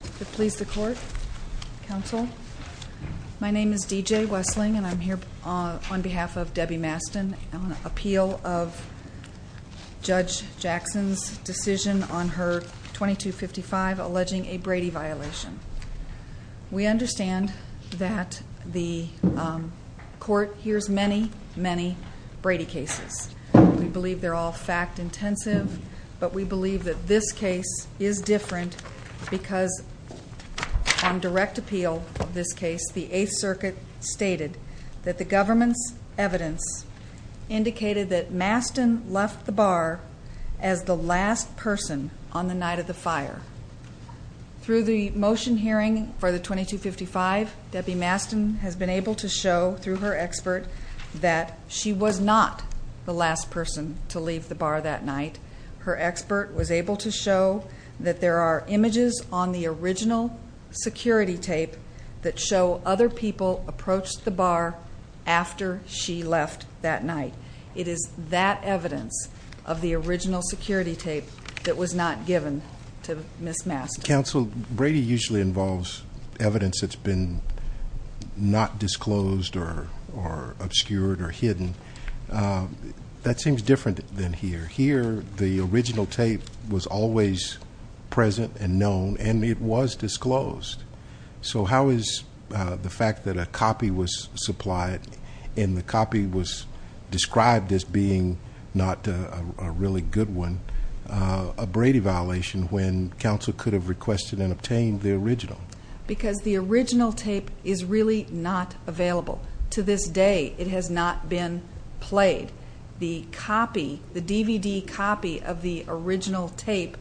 Please the court, counsel. My name is D.J. Wessling and I'm here on behalf of Debbie Masten on appeal of Judge Jackson's decision on her 2255 alleging a Brady violation. We understand that the court hears many, many Brady cases. We believe they're all fact-intensive, but we believe that this case is different because on direct appeal of this case, the Eighth Circuit stated that the government's evidence indicated that Masten left the bar as the last person on the night of the fire. Through the motion hearing for the 2255, Debbie Masten has been able to show through her expert that she was not the last person to leave the bar that night. Her expert was able to show that there are images on the original security tape that show other people approached the bar after she left that night. It is that evidence of the original security tape that was not given to Ms. Masten. Counsel, Brady usually involves evidence that's been not disclosed or obscured or hidden. That seems different than here. Here, the original tape was always present and known and it was disclosed. How is the fact that a copy was supplied and the copy was described as being not a really good one a Brady violation when counsel could have requested and obtained the original? Because the original tape is really not available. To this day, it has not been played. The DVD copy of the original tape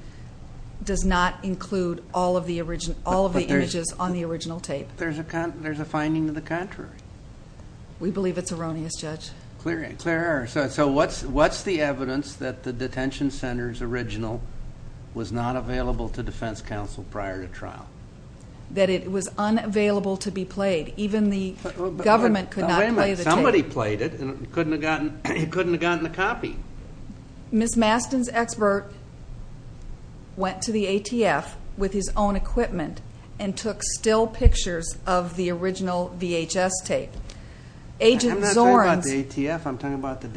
does not include all of the images on the original tape. There's a finding to the contrary. We believe it's erroneous, Judge. Clear error. What's the evidence that the detention center's original was not available to defense counsel prior to trial? That it was unavailable to be played. Even the government could not play the tape. Nobody played it and couldn't have gotten a copy. Ms. Masten's expert went to the ATF with his own equipment and took still pictures of the original VHS tape. I'm not talking about the ATF, I'm talking about the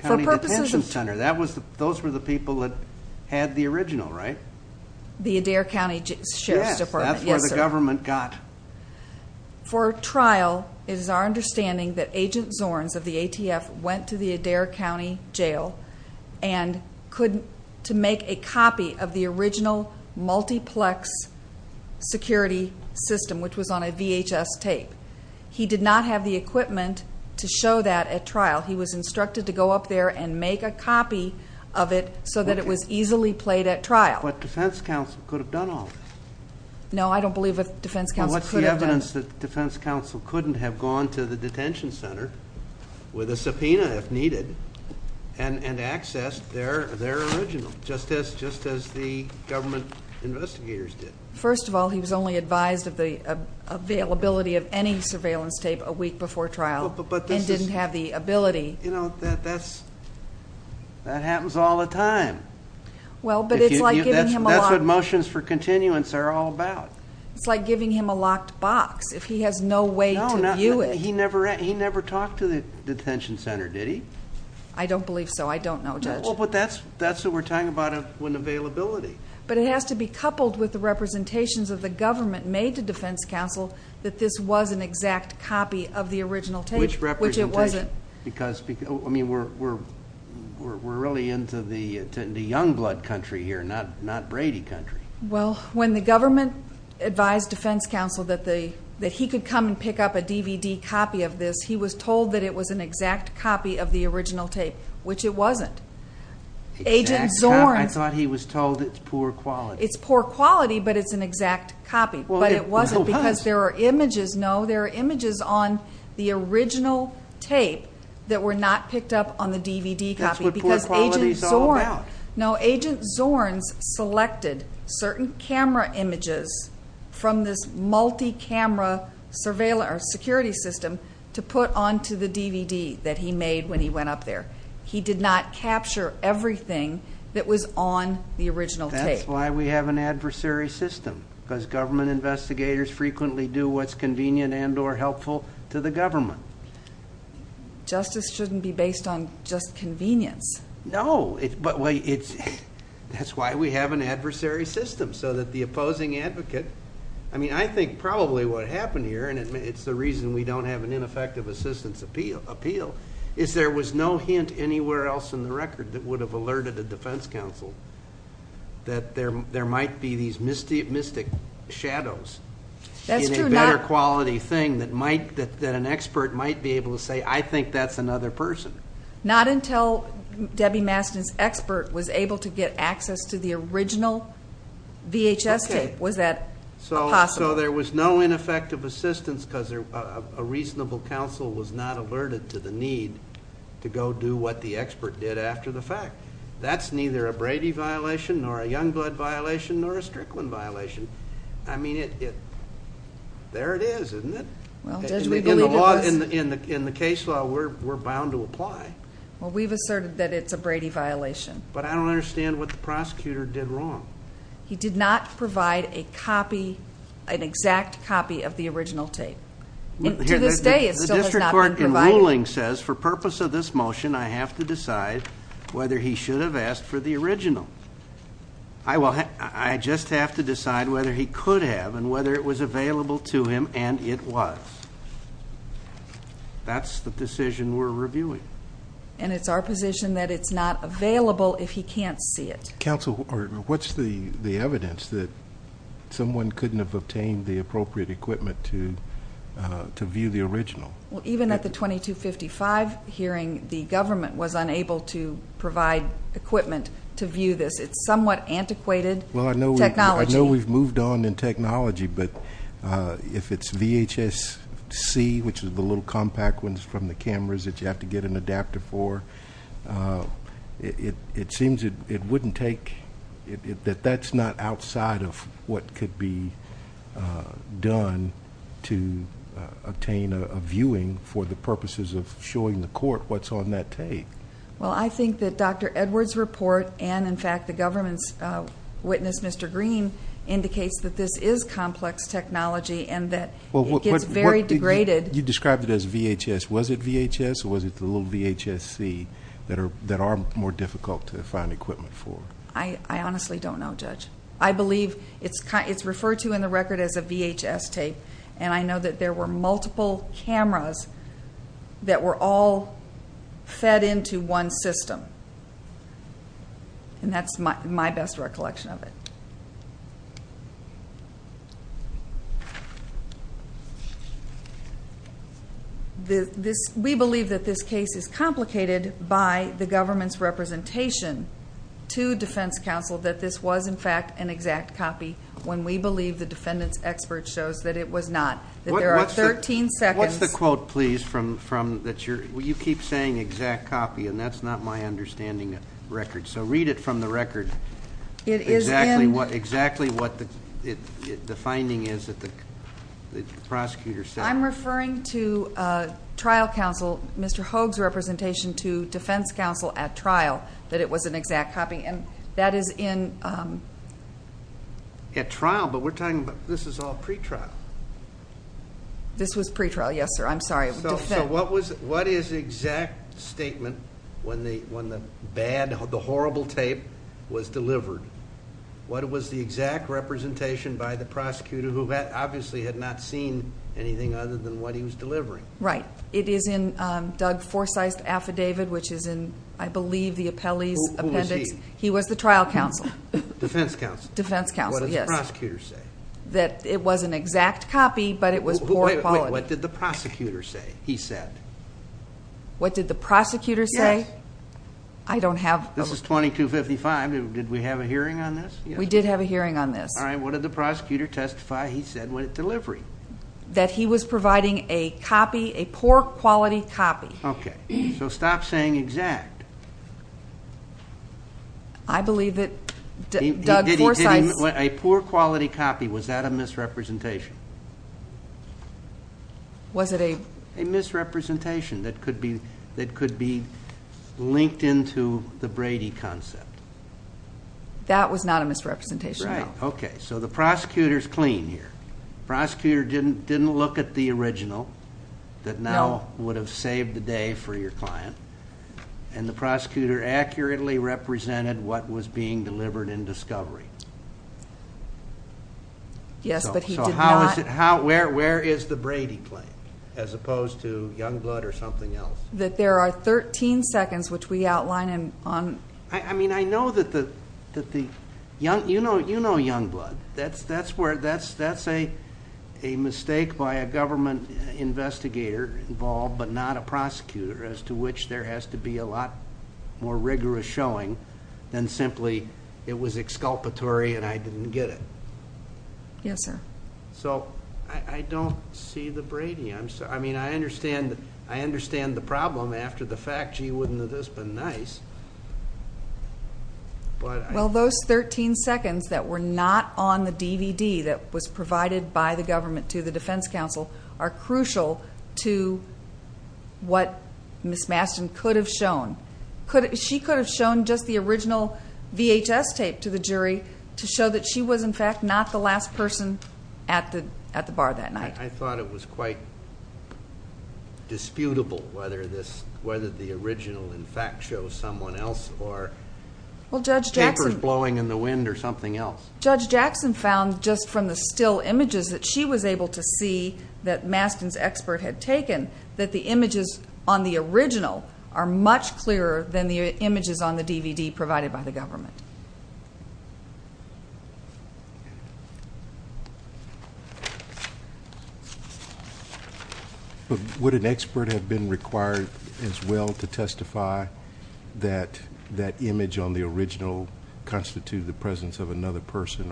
county detention center. Those were the people that had the original, right? The Adair County Sheriff's Department. Yes, that's where the government got. For trial, it is our understanding that Agent Zorns of the ATF went to the Adair County Jail and couldn't make a copy of the original multiplex security system, which was on a VHS tape. He did not have the equipment to show that at trial. He was instructed to go up there and make a copy of it so that it was easily played at trial. But defense counsel could have done all this. No, I don't believe that defense counsel could have done that. Well, what's the evidence that defense counsel couldn't have gone to the detention center with a subpoena if needed and accessed their original just as the government investigators did? First of all, he was only advised of the availability of any surveillance tape a week before trial and didn't have the ability. You know, that happens all the time. Well, but it's like giving him a lot. That's what motions for continuance are all about. It's like giving him a locked box if he has no way to view it. No, he never talked to the detention center, did he? I don't believe so. I don't know, Judge. No, but that's what we're talking about when availability. But it has to be coupled with the representations of the government made to defense counsel that this was an exact copy of the original tape, which it wasn't. I mean, we're really into young blood country here, not Brady country. Well, when the government advised defense counsel that he could come and pick up a DVD copy of this, he was told that it was an exact copy of the original tape, which it wasn't. I thought he was told it's poor quality. It's poor quality, but it's an exact copy. But it wasn't because there are images. No, there are images on the original tape that were not picked up on the DVD copy. That's what poor quality is all about. No, Agent Zorns selected certain camera images from this multi-camera security system to put onto the DVD that he made when he went up there. He did not capture everything that was on the original tape. That's why we have an adversary system, because government investigators frequently do what's convenient and or helpful to the government. Justice shouldn't be based on just convenience. No, but that's why we have an adversary system, so that the opposing advocate. I mean, I think probably what happened here, and it's the reason we don't have an ineffective assistance appeal, is there was no hint anywhere else in the record that would have alerted a defense counsel that there might be these mystic shadows in a better quality thing that an expert might be able to say, I think that's another person. Not until Debbie Mastin's expert was able to get access to the original VHS tape was that possible. So there was no ineffective assistance because a reasonable counsel was not alerted to the need to go do what the expert did after the fact. That's neither a Brady violation nor a Youngblood violation nor a Strickland violation. I mean, there it is, isn't it? In the case law, we're bound to apply. Well, we've asserted that it's a Brady violation. But I don't understand what the prosecutor did wrong. He did not provide a copy, an exact copy of the original tape. To this day, it still has not been provided. The district court in ruling says for purpose of this motion, I have to decide whether he should have asked for the original. I just have to decide whether he could have and whether it was available to him, and it was. That's the decision we're reviewing. And it's our position that it's not available if he can't see it. Counsel, what's the evidence that someone couldn't have obtained the appropriate equipment to view the original? Well, even at the 2255 hearing, the government was unable to provide equipment to view this. It's somewhat antiquated technology. Well, I know we've moved on in technology, but if it's VHSC, which is the little compact ones from the cameras that you have to get an adapter for, it seems it wouldn't take, that that's not outside of what could be done to obtain a viewing for the purposes of showing the court what's on that tape. Well, I think that Dr. Edwards' report and, in fact, the government's witness, Mr. Green, indicates that this is complex technology and that it gets very degraded. You described it as VHS. Was it VHS or was it the little VHSC that are more difficult to find equipment for? I honestly don't know, Judge. I believe it's referred to in the record as a VHS tape, and I know that there were multiple cameras that were all fed into one system. And that's my best recollection of it. We believe that this case is complicated by the government's representation to defense counsel that this was, in fact, an exact copy, when we believe the defendant's expert shows that it was not. That there are 13 seconds... What's the quote, please, that you're... So read it from the record. It is in... Exactly what the finding is that the prosecutor said. I'm referring to trial counsel, Mr. Hogue's representation to defense counsel at trial, that it was an exact copy, and that is in... At trial, but we're talking about this is all pretrial. This was pretrial, yes, sir. I'm sorry. What is the exact statement when the horrible tape was delivered? What was the exact representation by the prosecutor, who obviously had not seen anything other than what he was delivering? Right. It is in Doug Forsythe's affidavit, which is in, I believe, the appellee's appendix. Who was he? He was the trial counsel. Defense counsel. Defense counsel, yes. What did the prosecutor say? That it was an exact copy, but it was poor quality. What did the prosecutor say, he said? What did the prosecutor say? Yes. I don't have... This is 2255. Did we have a hearing on this? We did have a hearing on this. All right. What did the prosecutor testify, he said, with delivery? That he was providing a copy, a poor quality copy. Okay. So stop saying exact. I believe that Doug Forsythe... Was it a... A misrepresentation that could be linked into the Brady concept. That was not a misrepresentation. Right. Okay. So the prosecutor is clean here. The prosecutor didn't look at the original that now would have saved the day for your client, and the prosecutor accurately represented what was being delivered in discovery. Yes, but he did not... Where is the Brady claim, as opposed to Youngblood or something else? That there are 13 seconds, which we outline on... I mean, I know that the... You know Youngblood. That's a mistake by a government investigator involved, but not a prosecutor, as to which there has to be a lot more rigorous showing than simply it was exculpatory and I didn't get it. Yes, sir. So I don't see the Brady. I mean, I understand the problem after the fact. Gee, wouldn't this have been nice? Well, those 13 seconds that were not on the DVD that was provided by the government to the defense counsel are crucial to what Ms. Mastin could have shown. She could have shown just the original VHS tape to the jury to show that she was, in fact, not the last person at the bar that night. I thought it was quite disputable whether the original, in fact, shows someone else or papers blowing in the wind or something else. Judge Jackson found just from the still images that she was able to see that Mastin's expert had taken that the images on the original are much clearer than the images on the DVD provided by the government. Would an expert have been required as well to testify that that image on the original constitute the presence of another person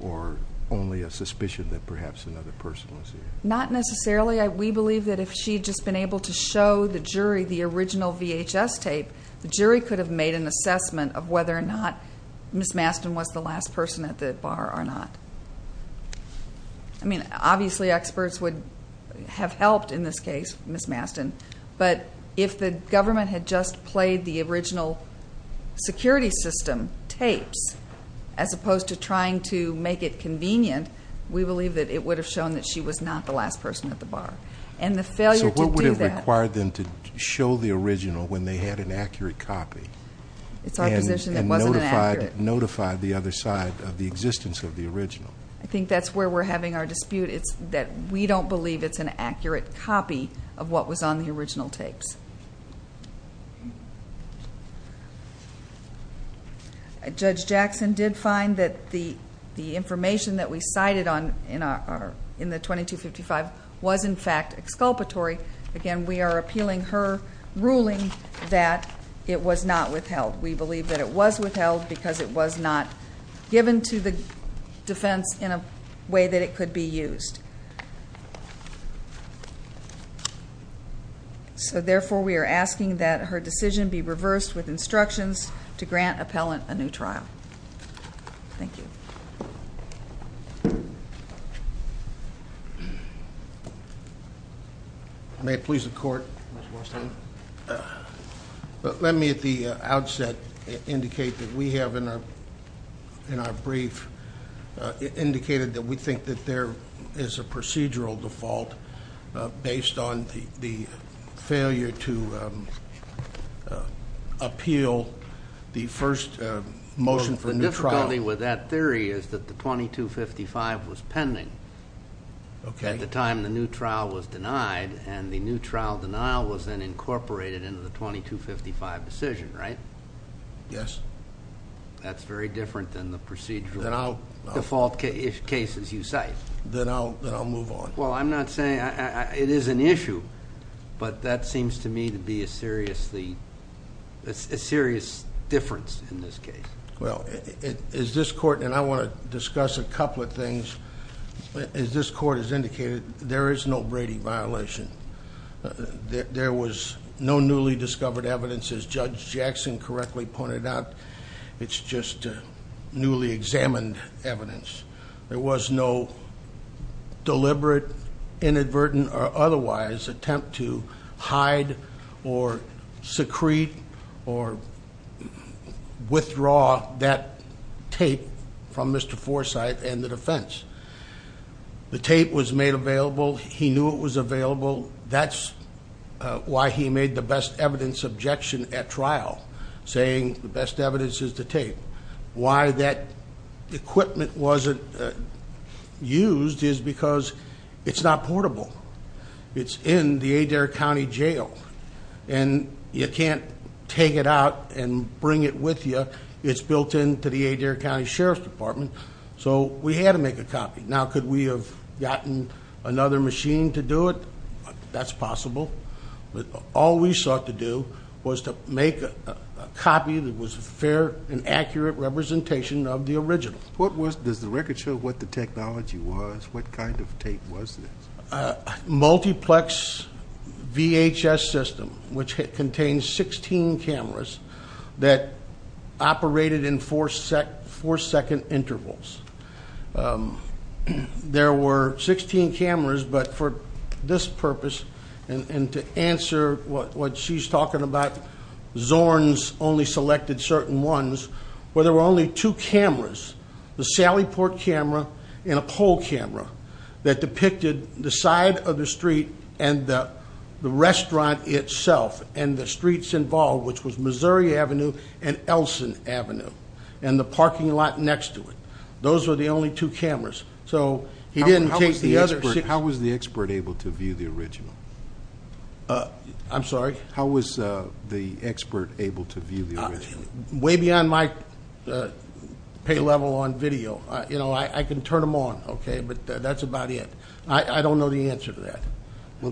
or only a suspicion that perhaps another person was there? Not necessarily. We believe that if she had just been able to show the jury the original VHS tape, the jury could have made an assessment of whether or not Ms. Mastin was the last person at the bar or not. I mean, obviously experts would have helped in this case, Ms. Mastin, but if the government had just played the original security system tapes as opposed to trying to make it convenient, we believe that it would have shown that she was not the last person at the bar. And the failure to do that... So what would have required them to show the original when they had an accurate copy? It's our position that it wasn't accurate. And notify the other side of the existence of the original. I think that's where we're having our dispute. It's that we don't believe it's an accurate copy of what was on the original tapes. Judge Jackson did find that the information that we cited in the 2255 was, in fact, exculpatory. Again, we are appealing her ruling that it was not withheld. We believe that it was withheld because it was not given to the defense in a way that it could be used. So, therefore, we are asking that her decision be reversed with instructions to grant appellant a new trial. Thank you. May it please the Court. Mr. Marston. Let me at the outset indicate that we have in our brief indicated that we have in our brief indicated that there is a procedural default based on the failure to appeal the first motion for new trial. The difficulty with that theory is that the 2255 was pending at the time the new trial was denied, and the new trial denial was then incorporated into the 2255 decision, right? Yes. That's very different than the procedural default cases you cite. Then I'll move on. Well, I'm not saying... It is an issue, but that seems to me to be a serious difference in this case. Well, as this Court... And I want to discuss a couple of things. As this Court has indicated, there is no Brady violation. There was no newly discovered evidence. As Judge Jackson correctly pointed out, it's just newly examined evidence. There was no deliberate, inadvertent, or otherwise attempt to hide or secrete or withdraw that tape from Mr. Forsythe and the defense. The tape was made available. He knew it was available. That's why he made the best evidence objection at trial, saying the best evidence is the tape. Why that equipment wasn't used is because it's not portable. It's in the Adair County Jail, and you can't take it out and bring it with you. It's built into the Adair County Sheriff's Department, so we had to make a copy. Now, could we have gotten another machine to do it? That's possible. All we sought to do was to make a copy that was a fair and accurate representation of the original. Does the record show what the technology was? What kind of tape was this? Multiplex VHS system, which contains 16 cameras that operated in four-second intervals. There were 16 cameras, but for this purpose and to answer what she's talking about, Zorn's only selected certain ones where there were only two cameras, the Sally Port camera and a pole camera that depicted the side of the street and the restaurant itself and the streets involved, which was Missouri Avenue and Elson Avenue and the parking lot next to it. Those were the only two cameras, so he didn't take the other. How was the expert able to view the original? I'm sorry? How was the expert able to view the original? Way beyond my pay level on video. I can turn them on, but that's about it. I don't know the answer to that.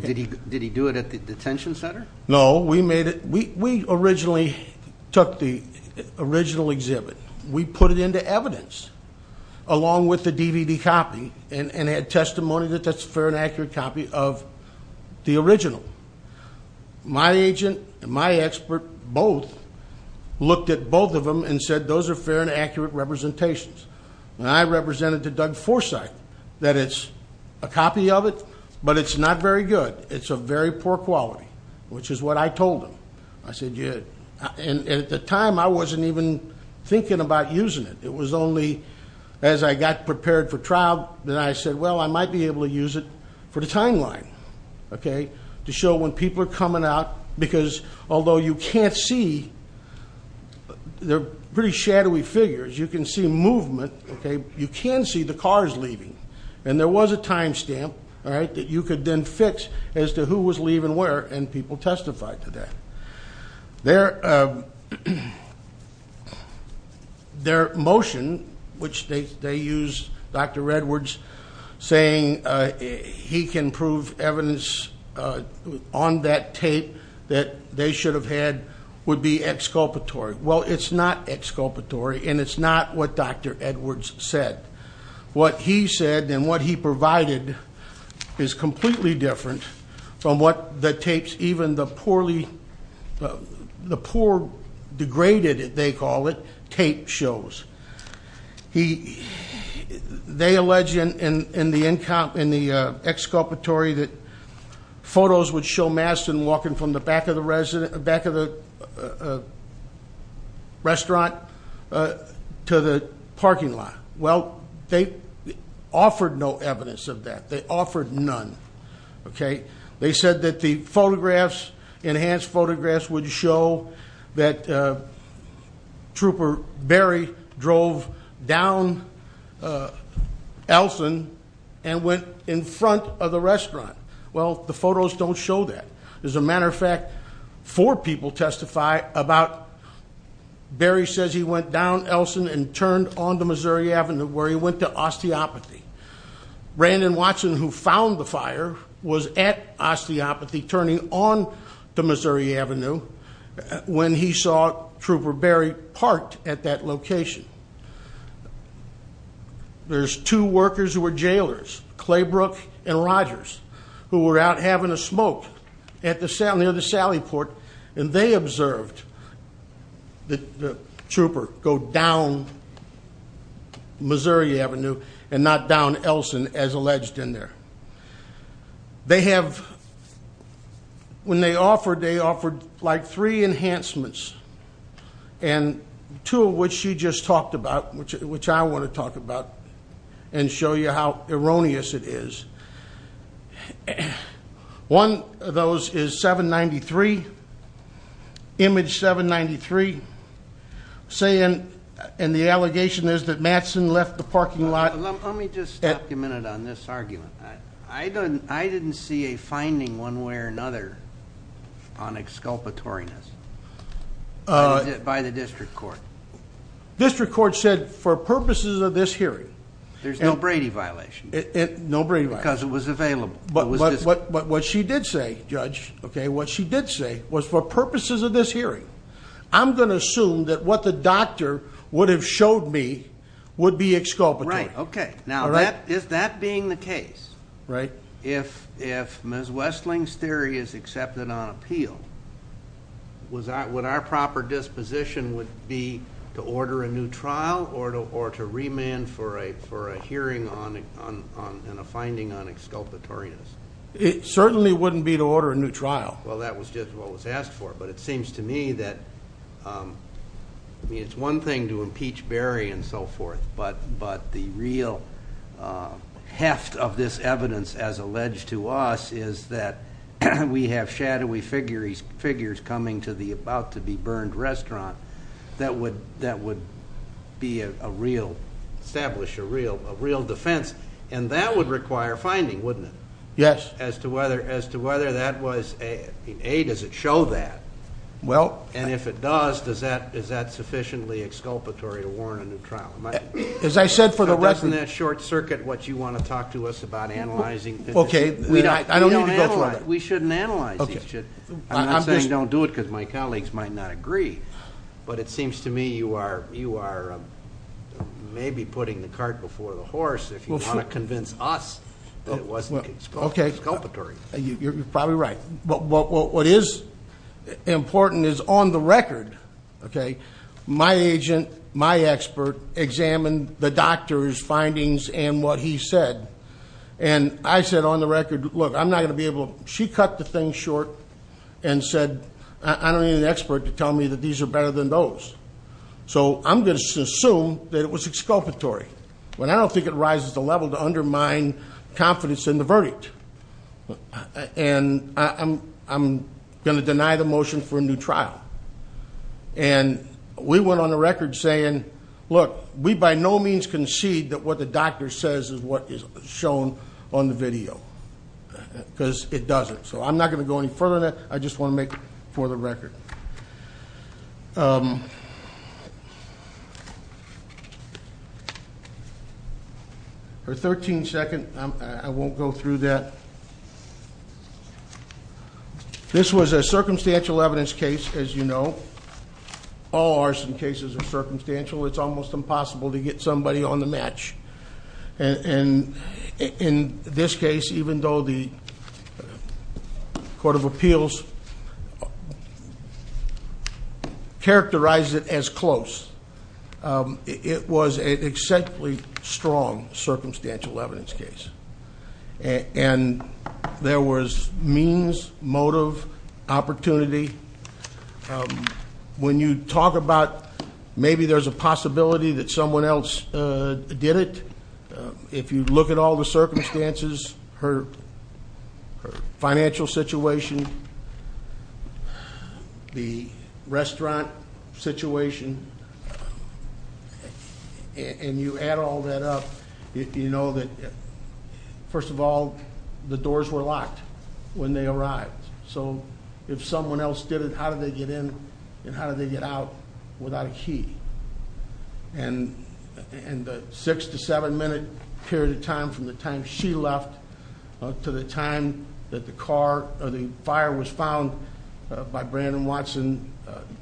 Did he do it at the detention center? No. We originally took the original exhibit. We put it into evidence along with the DVD copy and had testimony that that's a fair and accurate copy of the original. My agent and my expert both looked at both of them and said those are fair and accurate representations. And I represented to Doug Forsythe that it's a copy of it, but it's not very good. It's of very poor quality, which is what I told him. And at the time, I wasn't even thinking about using it. It was only as I got prepared for trial that I said, well, I might be able to use it for the timeline to show when people are coming out because although you can't see, they're pretty shadowy figures, you can see movement. You can see the cars leaving. And there was a time stamp that you could then fix as to who was leaving where, and people testified to that. Their motion, which they used Dr. Edwards saying he can prove evidence on that tape that they should have had, would be exculpatory. Well, it's not exculpatory, and it's not what Dr. Edwards said. What he said and what he provided is completely different from what the tapes, even the poor degraded, they call it, tape shows. They allege in the exculpatory that photos would show Mastin walking from the back of the restaurant to the parking lot. Well, they offered no evidence of that. They offered none, okay? They said that the photographs, enhanced photographs, would show that Trooper Berry drove down Elson and went in front of the restaurant. Well, the photos don't show that. As a matter of fact, four people testify about Berry says he went down Elson and turned onto Missouri Avenue where he went to osteopathy. Brandon Watson, who found the fire, was at osteopathy turning onto Missouri Avenue when he saw Trooper Berry parked at that location. There's two workers who were jailers, Claybrook and Rogers, who were out having a smoke near the Sally Port, and they observed that Trooper go down Missouri Avenue and not down Elson as alleged in there. They have, when they offered, they offered like three enhancements, and two of which you just talked about, which I want to talk about and show you how erroneous it is. One of those is 793, image 793, saying, and the allegation is that Mastin left the parking lot. Let me just stop you a minute on this argument. I didn't see a finding one way or another on exculpatoriness by the district court. District court said for purposes of this hearing. There's no Brady violation. No Brady violation. Because it was available. But what she did say, Judge, okay, what she did say was for purposes of this hearing, I'm going to assume that what the doctor would have showed me would be exculpatory. Right, okay. Now, is that being the case? Right. If Ms. Westling's theory is accepted on appeal, would our proper disposition would be to order a new trial or to remand for a hearing and a finding on exculpatoriness? It certainly wouldn't be to order a new trial. Well, that was just what was asked for. But it seems to me that, I mean, it's one thing to impeach Berry and so forth, but the real heft of this evidence, as alleged to us, is that we have shadowy figures coming to the about-to-be-burned restaurant that would be a real, establish a real defense, and that would require finding, wouldn't it? Yes. As to whether that was, A, does it show that? Well. And if it does, is that sufficiently exculpatory to warrant a new trial? As I said for the record. That wasn't in that short circuit what you want to talk to us about analyzing. Okay. I don't need to go through that. We shouldn't analyze these. I'm not saying don't do it because my colleagues might not agree, but it seems to me you are maybe putting the cart before the horse if you want to convince us that it wasn't exculpatory. You're probably right. What is important is on the record, okay, my agent, my expert examined the doctor's findings and what he said, and I said on the record, look, I'm not going to be able to, she cut the thing short and said, I don't need an expert to tell me that these are better than those. So I'm going to assume that it was exculpatory. I don't think it rises to the level to undermine confidence in the verdict. And I'm going to deny the motion for a new trial. And we went on the record saying, look, we by no means concede that what the doctor says is what is shown on the video because it doesn't. So I'm not going to go any further than that. I just want to make it for the record. For 13 seconds, I won't go through that. This was a circumstantial evidence case, as you know. All arson cases are circumstantial. It's almost impossible to get somebody on the match. And in this case, even though the Court of Appeals characterized it as close, it was an exactly strong circumstantial evidence case. And there was means, motive, opportunity. When you talk about maybe there's a possibility that someone else did it, if you look at all the circumstances, her financial situation, the restaurant situation, and you add all that up, you know that, first of all, the doors were locked when they arrived. So if someone else did it, how did they get in and how did they get out without a key? And the six to seven minute period of time from the time she left to the time that the fire was found by Brandon Watson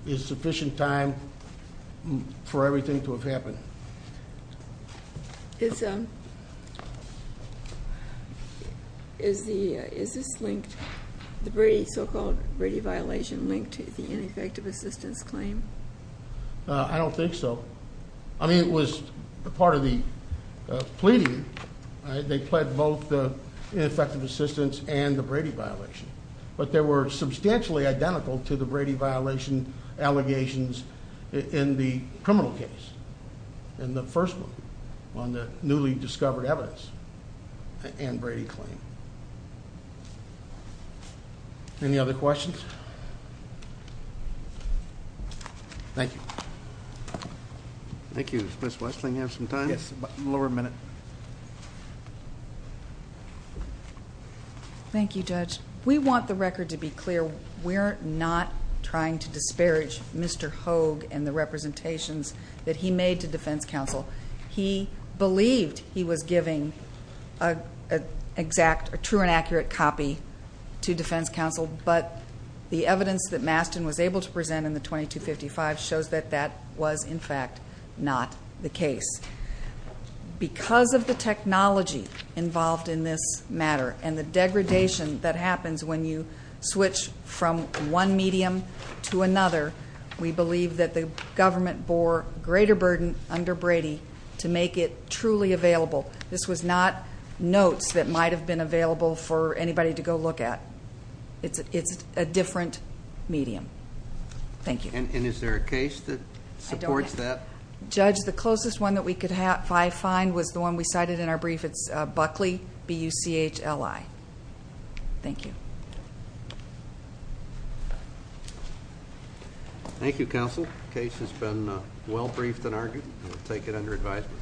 is sufficient time for everything to have happened. Is the so-called Brady violation linked to the ineffective assistance claim? I don't think so. I mean, it was part of the pleading. They pled both the ineffective assistance and the Brady violation. But they were substantially identical to the Brady violation allegations in the criminal case. In the first one, on the newly discovered evidence and Brady claim. Any other questions? Thank you. Thank you. Ms. Westling, you have some time? Yes, a little over a minute. Thank you, Judge. We want the record to be clear. We're not trying to disparage Mr. Hogue and the representations that he made to defense counsel. He believed he was giving a true and accurate copy to defense counsel, but the evidence that Mastin was able to present in the 2255 shows that that was, in fact, not the case. Because of the technology involved in this matter and the degradation that happens when you switch from one medium to another, we believe that the government bore greater burden under Brady to make it truly available. This was not notes that might have been available for anybody to go look at. It's a different medium. Thank you. And is there a case that supports that? Judge, the closest one that we could find was the one we cited in our brief. It's Buckley, B-U-C-H-L-I. Thank you. Thank you, counsel. The case has been well briefed and argued. We'll take it under advisement.